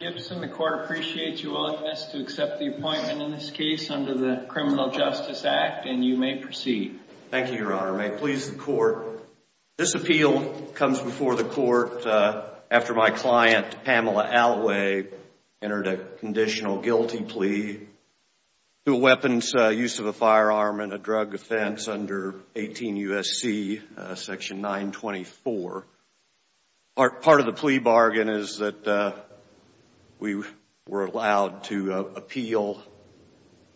Gibson, the court appreciates your willingness to accept the appointment in this case under the Criminal Justice Act, and you may proceed. Thank you, Your Honor. May it please the court, this appeal comes before the court after my client, Pamela Alloway, entered a conditional guilty plea to a weapons use of a firearm and a drug offense under 18 U.S.C. section 924. Part of the plea bargain is that we were allowed to appeal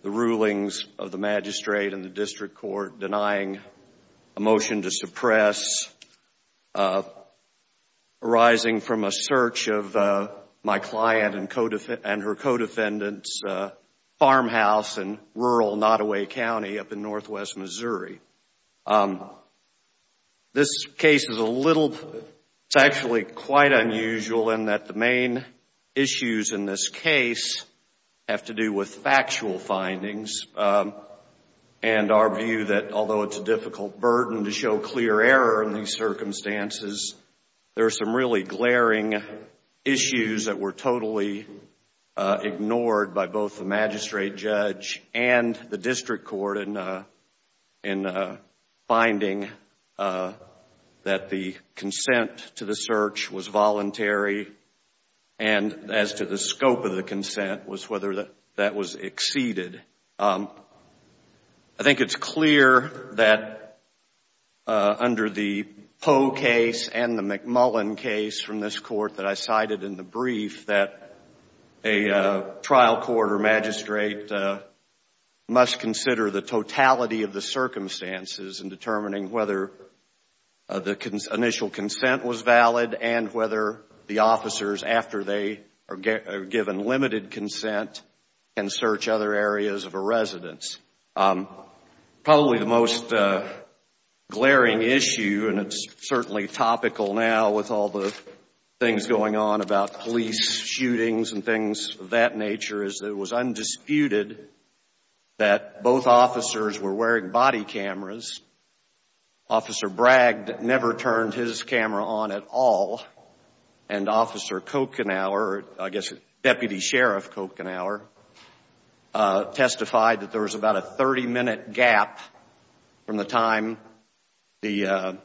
the rulings of the magistrate and the district court denying a motion to suppress arising from a search of my client and her co-defendants' farmhouse in rural Nottaway County up in northwest Missouri. This case is a little, it's actually quite unusual in that the main issues in this case have to do with factual findings, and our view that although it's a difficult burden to show clear error in these circumstances, there are some really glaring issues that were totally ignored by both the magistrate judge and the district court in finding that the consent to the search was voluntary, and as to the scope of the consent was whether that was exceeded. I think it's clear that under the Poe case and the McMullen case from this court that I cited in the brief that a trial court or magistrate must consider the totality of the circumstances in determining whether the initial consent was valid and whether the officers after they are given limited consent can search other areas of a residence. Probably the most glaring issue, and it's certainly topical now with all the things going on about police shootings and things of that nature, is that it was undisputed that both officers were wearing body cameras. Officer Bragg never turned his camera on at all, and Officer Kochenauer, I guess Deputy Sheriff Kochenauer, testified that there was about a 30-minute gap from the time he and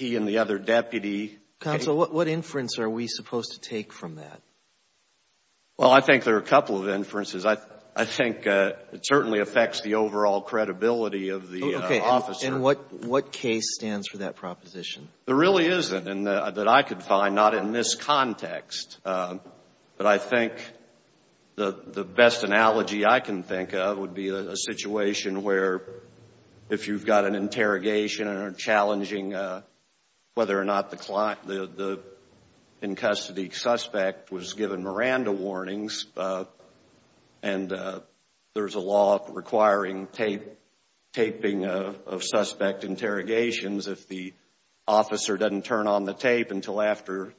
the other deputy. Counsel, what inference are we supposed to take from that? Well, I think there are a couple of inferences. I think it certainly affects the overall credibility of the officer. Okay. And what case stands for that proposition? There really isn't, that I could find, not in this context, but I think the best analogy I can think of would be a situation where if you've got an interrogation and are challenging whether or not the in-custody suspect was given Miranda warnings, and there's a law requiring taping of suspect interrogations if the officer doesn't turn on the tape until after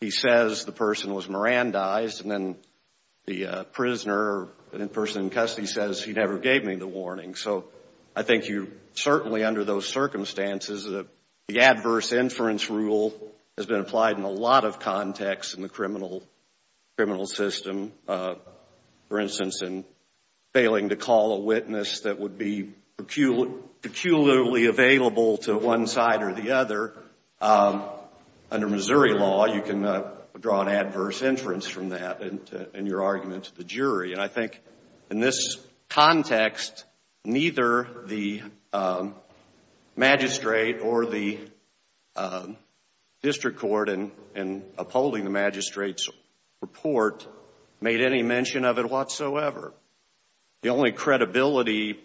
he says the person was Mirandized, and then the prisoner, the person in custody says he never gave me the warning. So I think you, certainly under those circumstances, the adverse inference rule has been applied in a lot of contexts in the criminal system, for instance, in failing to call a witness that would be peculiarly available to one side or the other. Under Missouri law, you can draw an adverse inference from that in your argument to the jury. And I think in this context, neither the magistrate or the district court in upholding the magistrate's report made any mention of it whatsoever. The only credibility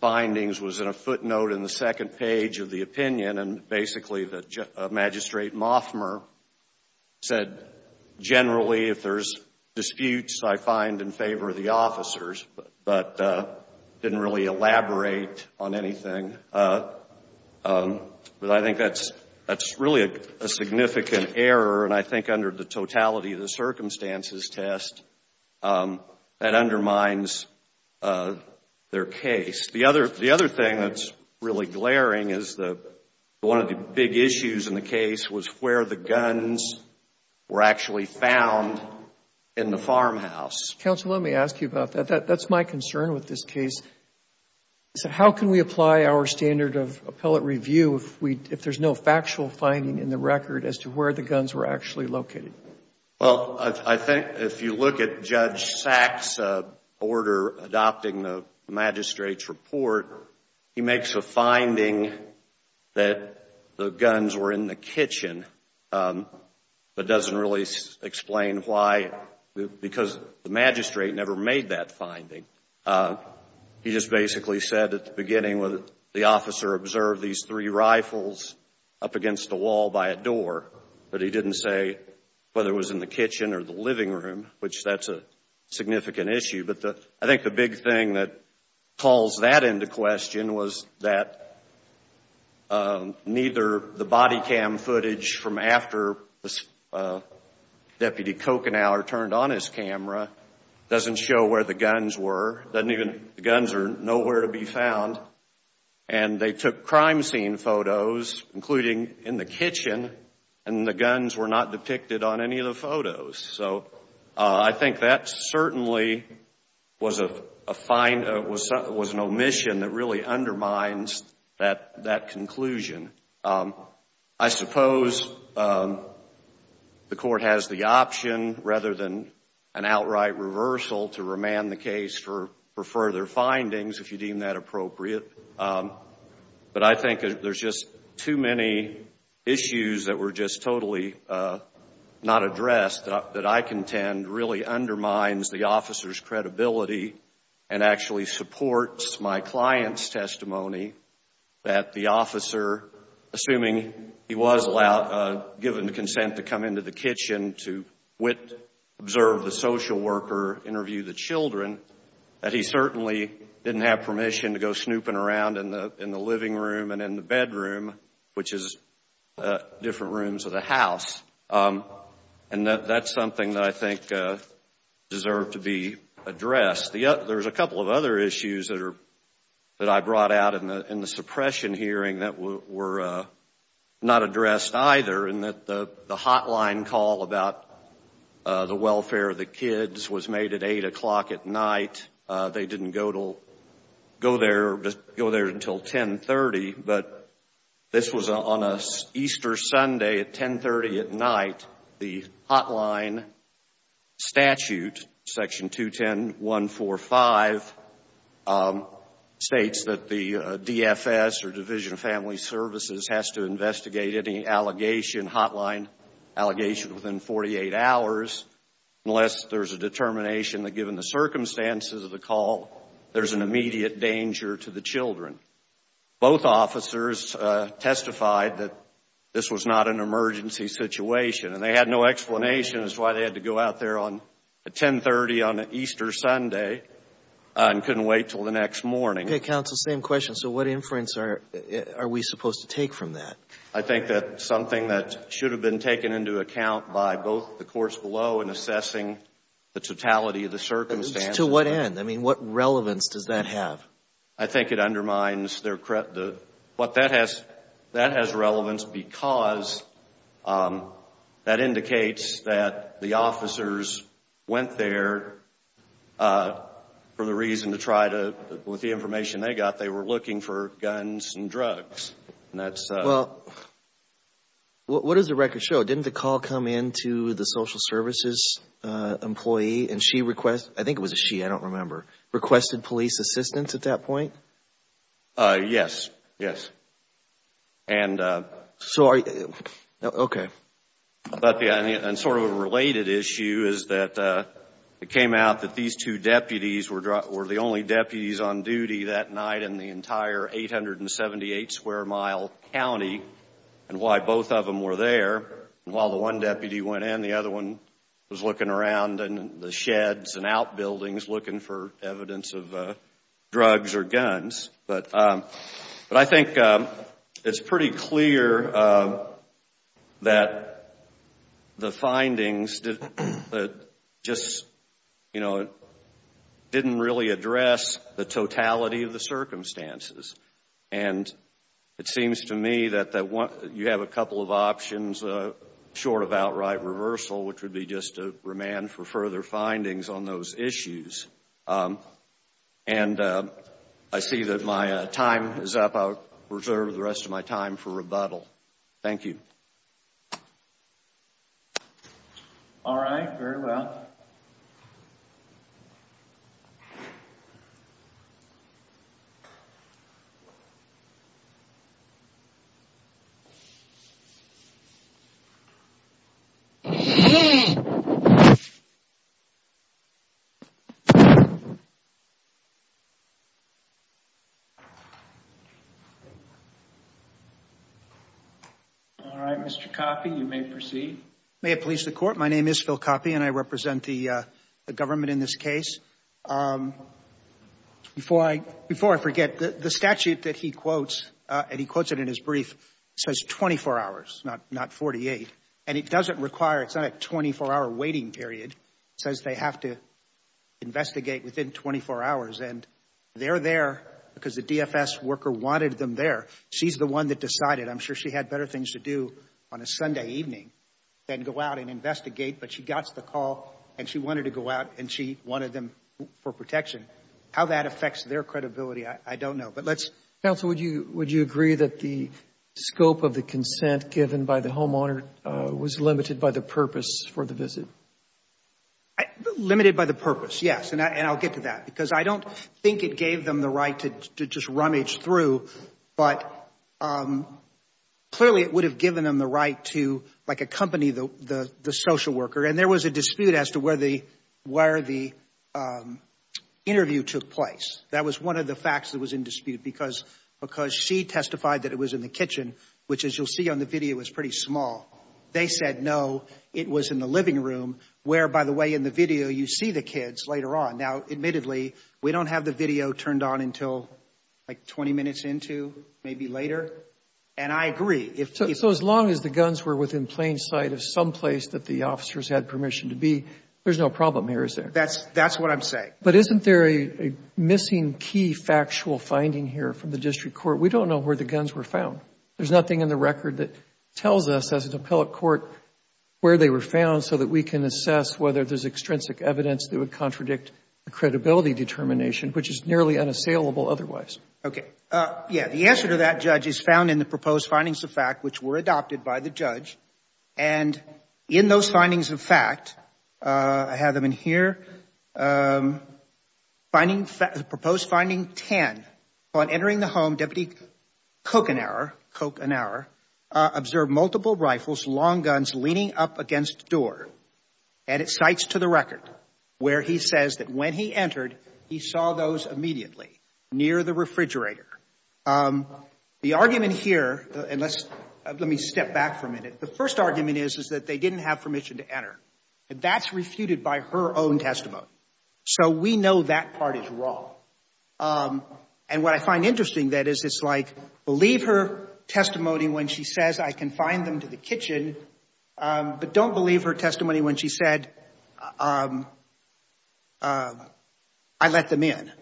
findings was in a footnote in the second page of the opinion, and basically the magistrate, Moffmer, said generally if there's disputes, I find in favor of the officers, but didn't really elaborate on anything. But I think that's really a significant error, and I think under the totality of the circumstances test that undermines their case. The other thing that's really glaring is one of the big issues in the case was where the guns were actually found in the farmhouse. Counsel, let me ask you about that. That's my concern with this case. How can we apply our standard of appellate review if there's no factual finding in the record as to where the guns were actually located? Well, I think if you look at Judge Sachs' order adopting the magistrate's report, he makes a finding that the guns were in the kitchen, but doesn't really explain why, because the magistrate never made that finding. He just basically said at the beginning, the officer observed these three rifles up against the wall by a door, but he didn't say whether it was in the kitchen or the living room, which that's a significant issue. But I think the big thing that calls that into question was that neither the body cam footage from after Deputy Kochenow turned on his camera doesn't show where the guns were. The guns are nowhere to be found, and they took crime scene photos, including in the kitchen, and the guns were not depicted on any of the photos. So I think that certainly was an omission that really undermines that conclusion. I suppose the court has the option, rather than an outright reversal, to remand the case for further findings, if you deem that appropriate. But I think there's just too many issues that were just totally not addressed that I contend really undermines the officer's credibility and actually supports my client's testimony that the officer, assuming he was given the consent to come into the kitchen to observe the social worker, interview the children, that he certainly didn't have permission to go snooping around in the living room and in the bedroom, which is different rooms of the house. And that's something that I think deserved to be addressed. There's a couple of other issues that I brought out in the suppression hearing that were not addressed either in that the hotline call about the welfare of the kids was made at eight o'clock at night. They didn't go there until 10.30, but this was on an Easter Sunday at 10.30 at night. The hotline statute, section 210.145, states that the DFS, or Division of Family Services, has to investigate any allegation, hotline allegation, within 48 hours unless there's a determination that, given the circumstances of the call, there's an immediate danger to the children. Both officers testified that this was not an emergency situation, and they had no explanation as to why they had to go out there at 10.30 on an Easter Sunday and couldn't wait until the next morning. Okay, counsel, same question. So what inference are we supposed to take from that? I think that's something that should have been taken into account by both the courts below in assessing the totality of the circumstances. To what end? I mean, what relevance does that have? I think it undermines their, what that has, that has relevance because that indicates that the officers went there for the reason to try to, with the information they got, they were looking for guns and drugs, and that's. Well, what does the record show? Didn't the call come in to the social services employee, and she requested, I think it was a she, I don't remember, requested police assistance at that point? Yes. Yes. And. So are you, okay. But yeah, and sort of a related issue is that it came out that these two deputies were the only deputies on duty that night in the entire 878-square-mile county, and why both of them were there. And while the one deputy went in, the other one was looking around in the sheds and outbuildings looking for evidence of drugs or guns. But I think it's pretty clear that the findings just, you know, didn't really address the totality of the circumstances. And it seems to me that you have a couple of options short of outright reversal, which would be just to remand for further findings on those issues. And I see that my time is up. I'll reserve the rest of my time for rebuttal. Thank you. All right. Very well. All right, Mr. Coffey, you may proceed. May it please the court. My name is Phil Coffey, and I represent the government in this case. Before I forget, the statute that he quotes, and he quotes it in his brief, says 24 hours, not 48. And it doesn't require, it's not a 24-hour waiting period. It says they have to investigate within 24 hours. And they're there because the DFS worker wanted them there. She's the one that decided. I'm sure she had better things to do on a Sunday evening than go out and investigate, but she got the call, and she wanted to go out, and she wanted them for protection. How that affects their credibility, I don't know, but let's Counsel, would you agree that the scope of the consent given by the homeowner was limited by the purpose for the visit? Limited by the purpose, yes, and I'll get to that, because I don't think it gave them the right to just rummage through, but clearly, it would have given them the right to like accompany the social worker. And there was a dispute as to where the interview took place. That was one of the facts that was in dispute, because she testified that it was in the kitchen, which as you'll see on the video, is pretty small. They said no, it was in the living room, where by the way, in the video, you see the kids later on. Now admittedly, we don't have the video turned on until like 20 minutes into, maybe later, and I agree. So as long as the guns were within plain sight of some place that the officers had permission to be, there's no problem here, is there? That's what I'm saying. But isn't there a missing key factual finding here from the district court? We don't know where the guns were found. There's nothing in the record that tells us as an appellate court where they were found so that we can assess whether there's extrinsic evidence that would contradict the credibility determination, which is nearly unassailable otherwise. Okay. Yeah. The answer to that, Judge, is found in the proposed findings of fact, which were adopted by the judge. And in those findings of fact, I have them in here, the proposed finding 10, upon entering the home, Deputy Kokanar observed multiple rifles, long guns, leaning up against doors. And it cites to the record where he says that when he entered, he saw those immediately near the refrigerator. The argument here, and let's, let me step back for a minute. The first argument is, is that they didn't have permission to enter. That's refuted by her own testimony. So we know that part is wrong. And what I find interesting, that is, it's like, believe her testimony when she says I can find them to the kitchen, but don't believe her testimony when she said, I let them in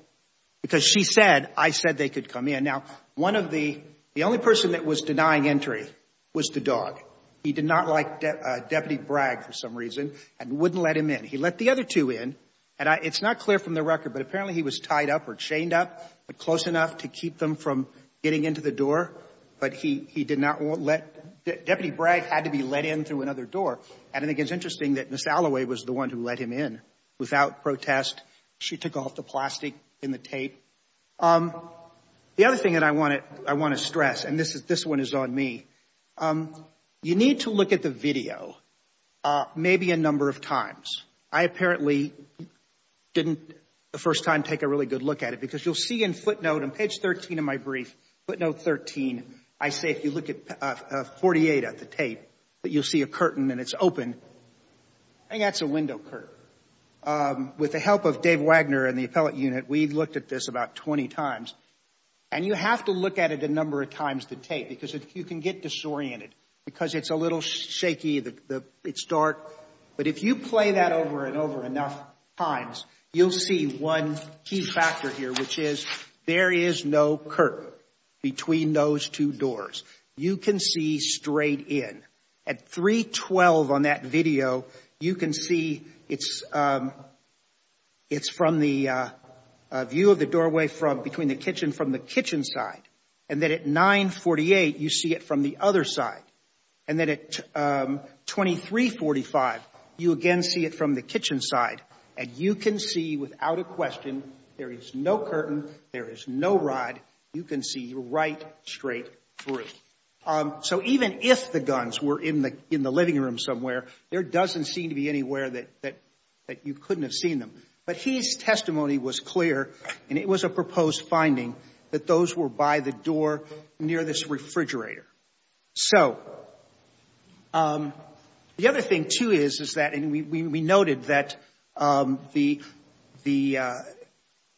because she said, I said they could come in. Now, one of the, the only person that was denying entry was the dog. He did not like Deputy Bragg for some reason and wouldn't let him in. He let the other two in and I, it's not clear from the record, but apparently he was tied up or chained up, but close enough to keep them from getting into the door. But he, he did not let, Deputy Bragg had to be let in through another door. And I think it's interesting that Ms. Allaway was the one who let him in without protest. She took off the plastic and the tape. The other thing that I want to, I want to stress, and this is, this one is on me. You need to look at the video maybe a number of times. I apparently didn't the first time take a really good look at it because you'll see in footnote, on page 13 of my brief, footnote 13, I say if you look at 48 at the tape, that you'll see a curtain and it's open. I think that's a window curtain. With the help of Dave Wagner and the appellate unit, we looked at this about 20 times. And you have to look at it a number of times, the tape, because if you can get disoriented, because it's a little shaky, the, the, it's dark. But if you play that over and over enough times, you'll see one key factor here, which is there is no curtain between those two doors. You can see straight in. At 312 on that video, you can see it's, it's from the view of the doorway from, between the kitchen, from the kitchen side. And then at 948, you see it from the other side. And then at 2345, you again see it from the kitchen side. And you can see without a question, there is no curtain, there is no rod. You can see right straight through. So even if the guns were in the, in the living room somewhere, there doesn't seem to be anywhere that, that, that you couldn't have seen them. But his testimony was clear and it was a proposed finding that those were by the door near this refrigerator. So the other thing too is, is that, and we, we, we noted that the, the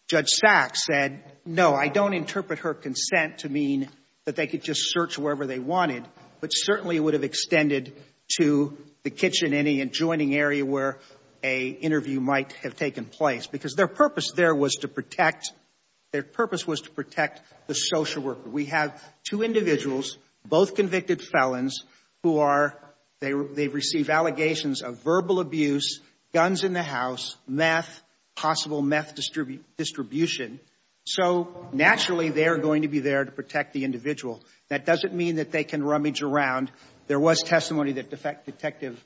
Judge Sachs said, no, I don't interpret her consent to mean that they could just search wherever they wanted, but certainly would have extended to the kitchen, any adjoining area where a interview might have taken place. Because their purpose there was to protect, their purpose was to protect the social worker. We have two individuals, both convicted felons, who are, they, they've received allegations of verbal abuse, guns in the house, meth, possible meth distribute, distribution. So naturally, they're going to be there to protect the individual. That doesn't mean that they can rummage around. There was testimony that defect, detective,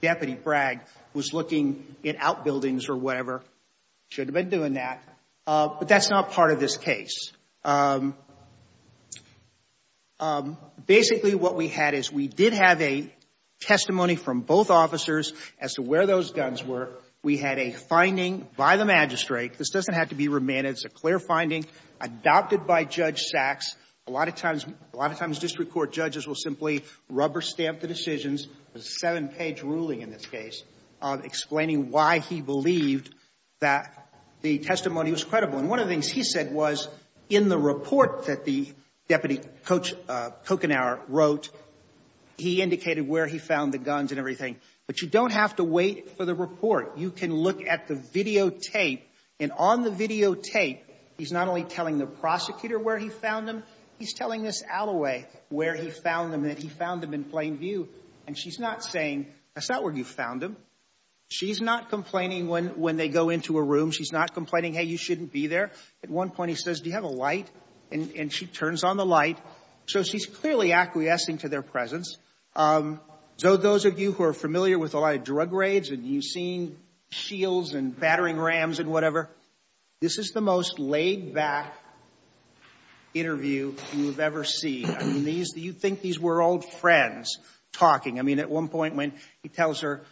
Deputy Bragg was looking at outbuildings or whatever, should have been doing that. But that's not part of this case. Um, basically what we had is we did have a testimony from both officers as to where those guns were. We had a finding by the magistrate. This doesn't have to be remanded. It's a clear finding adopted by Judge Sachs. A lot of times, a lot of times district court judges will simply rubber stamp the decisions. There's a seven page ruling in this case of explaining why he believed that the testimony was credible. And one of the things he said was in the report that the Deputy Coach, uh, Kochenour wrote, he indicated where he found the guns and everything. But you don't have to wait for the report. You can look at the videotape and on the videotape, he's not only telling the prosecutor where he found them, he's telling this alleyway where he found them, that he found them in plain view. And she's not saying, that's not where you found them. She's not complaining when, when they go into a room. She's not complaining, hey, you shouldn't be there. At one point he says, do you have a light? And she turns on the light. So she's clearly acquiescing to their presence. So those of you who are familiar with a lot of drug raids and you've seen shields and battering rams and whatever, this is the most laid back interview you've ever seen. I mean, these, you'd think these were old friends talking. I mean, at one point when he tells her,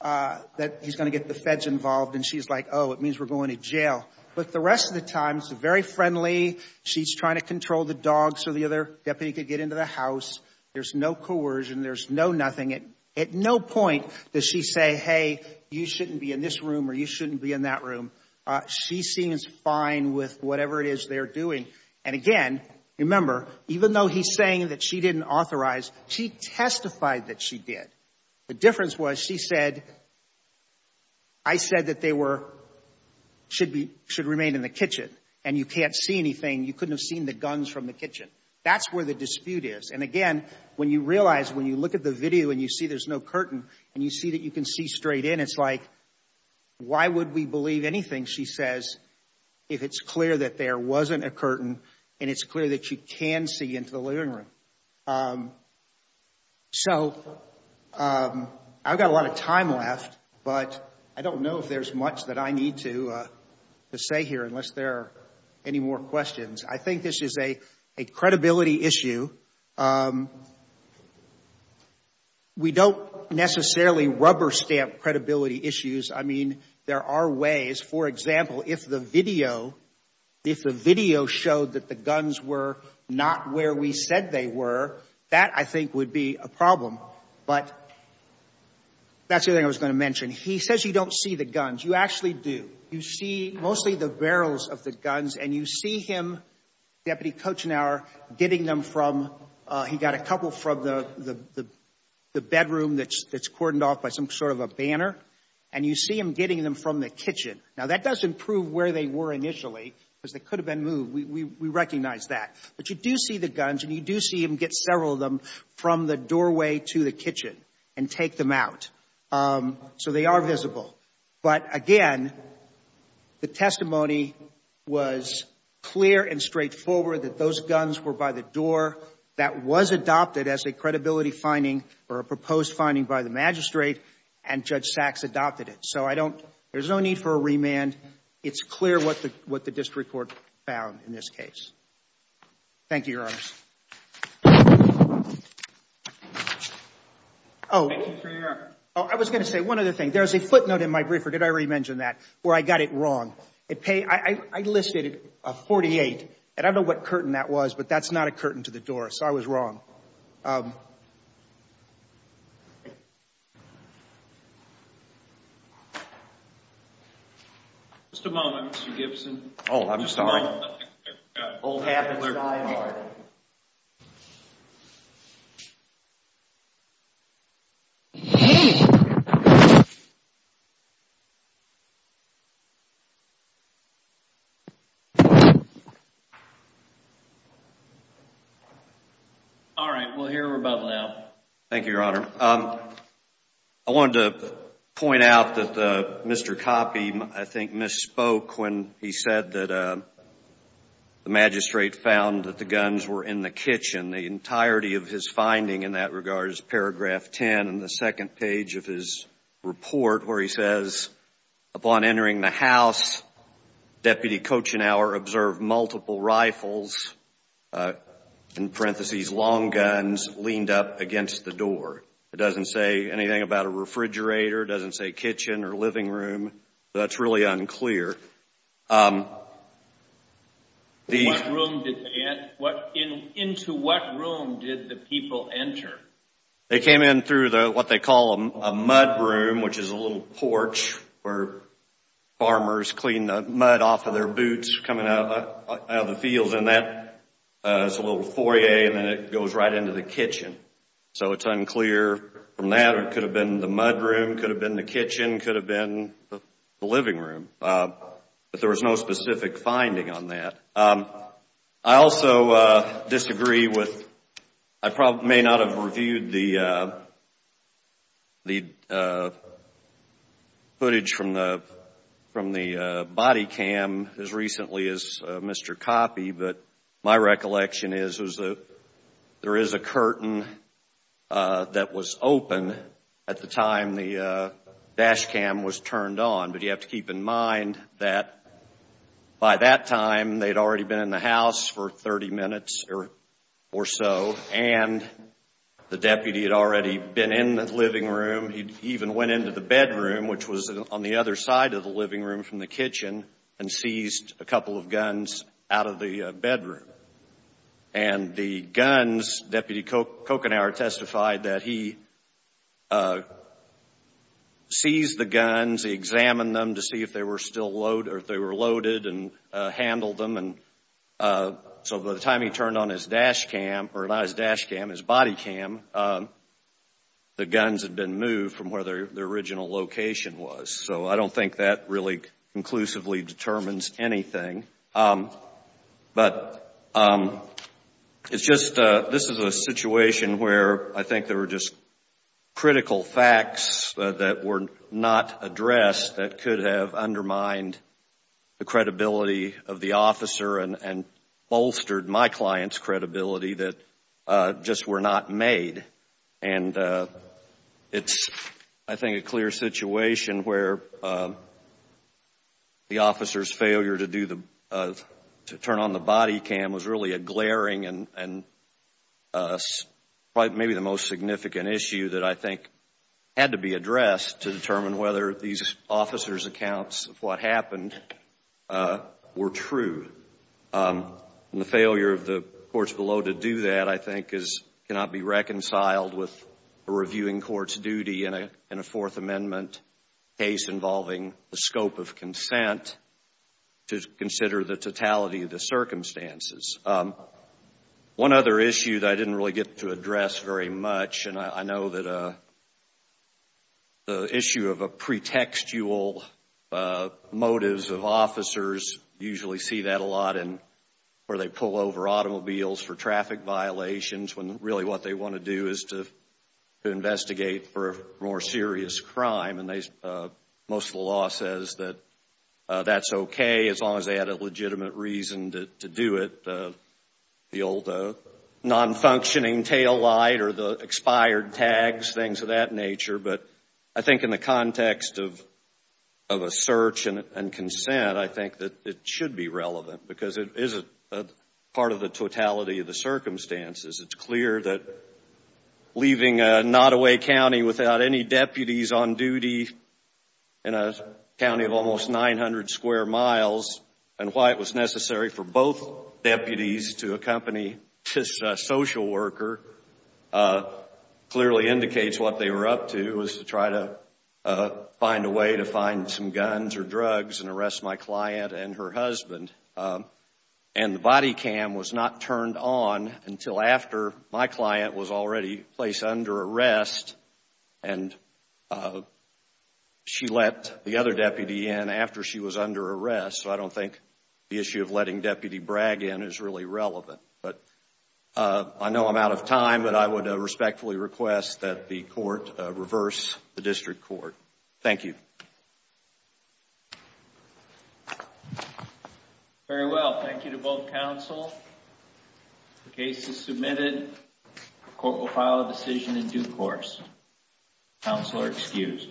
uh, that he's going to get the feds involved and she's like, oh, it means we're going to jail. But the rest of the time, it's very friendly. She's trying to control the dogs so the other deputy could get into the house. There's no coercion. There's no nothing. At no point does she say, hey, you shouldn't be in this room or you shouldn't be in that room. She seems fine with whatever it is they're doing. And again, remember, even though he's saying that she didn't authorize, she testified that she did. The difference was she said, I said that they were, should be, should remain in the kitchen and you can't see anything. You couldn't have seen the guns from the kitchen. That's where the dispute is. And again, when you realize, when you look at the video and you see there's no curtain and you see that you can see straight in, it's like, why would we believe anything she says if it's clear that there wasn't a curtain and it's clear that you can see into the living room? Um, so, um, I've got a lot of time left, but I don't know if there's much that I need to, uh, to say here unless there are any more questions. I think this is a, a credibility issue. Um, we don't necessarily rubber stamp credibility issues. I mean, there are ways, for example, if the video, if the video showed that the guns were not where we said they were, that I think would be a problem. But that's the other thing I was going to mention. He says you don't see the guns. You actually do. You see mostly the barrels of the guns and you see him, Deputy Kochenour, getting them from, he got a couple from the, the, the, the bedroom that's, that's cordoned off by some sort of a banner and you see him getting them from the kitchen. Now that doesn't prove where they were initially because they could have been moved. We, we, we recognize that. But you do see the guns and you do see him get several of them from the doorway to the kitchen and take them out. Um, so they are visible. But again, the testimony was clear and straightforward that those guns were by the door that was adopted as a credibility finding or a proposed finding by the magistrate and Judge Sachs adopted it. So I don't, there's no need for a remand. It's clear what the, what the district court found in this case. Thank you, Your Honor. Oh, I was going to say one other thing. There's a footnote in my briefer. Did I already mention that? Where I got it wrong. It paid, I, I, I listed a 48 and I don't know what curtain that was, but that's not a curtain to the door. So I was wrong. Just a moment, Mr. Gibson. Oh, I'm sorry. Hold half a side. All right. We'll hear about it now. Thank you, Your Honor. I wanted to point out that Mr. Coffey, I think misspoke when he said that the magistrate found that the guns were in the kitchen, the entirety of his finding in that regard is paragraph 10 in the second page of his report where he says, upon entering the house, Deputy Kochenour observed multiple rifles, in parentheses, long guns leaned up against the door. It doesn't say anything about a refrigerator, doesn't say kitchen or living room. So that's really unclear. What room did, what, into what room did the people enter? They came in through the, what they call a mud room, which is a little porch where farmers clean the mud off of their boots coming out of the fields. And that is a little foyer and then it goes right into the kitchen. So it's unclear from that. It could have been the mud room, could have been the kitchen, could have been the living room. But there was no specific finding on that. I also disagree with, I probably may not have reviewed the footage from the body cam as recently as Mr. Coffey, but my recollection is there is a curtain that was open at the time the dash cam was turned on. But you have to keep in mind that by that time, they'd already been in the house for 30 minutes or so, and the deputy had already been in the living room. He even went into the bedroom, which was on the other side of the living room from the kitchen, and seized a couple of guns out of the bedroom. And the guns, Deputy Kochenour testified that he seized the guns, he examined them to see if they were still loaded, or if they were loaded and handled them. And so by the time he turned on his dash cam, or not his dash cam, his body cam, the guns had been moved from where the original location was. So I don't think that really conclusively determines anything. But it's just, this is a situation where I think there were just acts that were not addressed that could have undermined the credibility of the officer and bolstered my client's credibility that just were not made. And it's, I think, a clear situation where the officer's failure to do the, to turn on the body cam was really a glaring and probably maybe the most significant issue that I think had to be addressed to determine whether these officers' accounts of what happened were true. And the failure of the courts below to do that, I think, is, cannot be reconciled with a reviewing court's duty in a Fourth Amendment case involving the scope of consent to consider the totality of the circumstances. Um, one other issue that I didn't really get to address very much, and I know that the issue of a pretextual motives of officers usually see that a lot in, where they pull over automobiles for traffic violations, when really what they want to do is to investigate for a more serious crime. And most of the law says that that's okay, as long as they had a legitimate reason to do it. The old non-functioning taillight or the expired tags, things of that nature. But I think in the context of a search and consent, I think that it should be relevant because it is a part of the totality of the circumstances. It's clear that leaving a Nottoway County without any deputies on duty in a county of almost 900 square miles and why it was necessary for both deputies to accompany this social worker clearly indicates what they were up to, was to try to find a way to find some guns or drugs and arrest my client and her husband. And the body cam was not turned on until after my client was already placed under arrest, and she let the other deputy in after she was under arrest. So I don't think the issue of letting deputy Bragg in is really relevant. But I know I'm out of time, but I would respectfully request that the court reverse the district court. Thank you. Very well. Thank you to both counsel. The case is submitted. The court will file a decision in due course. Counsel are excused.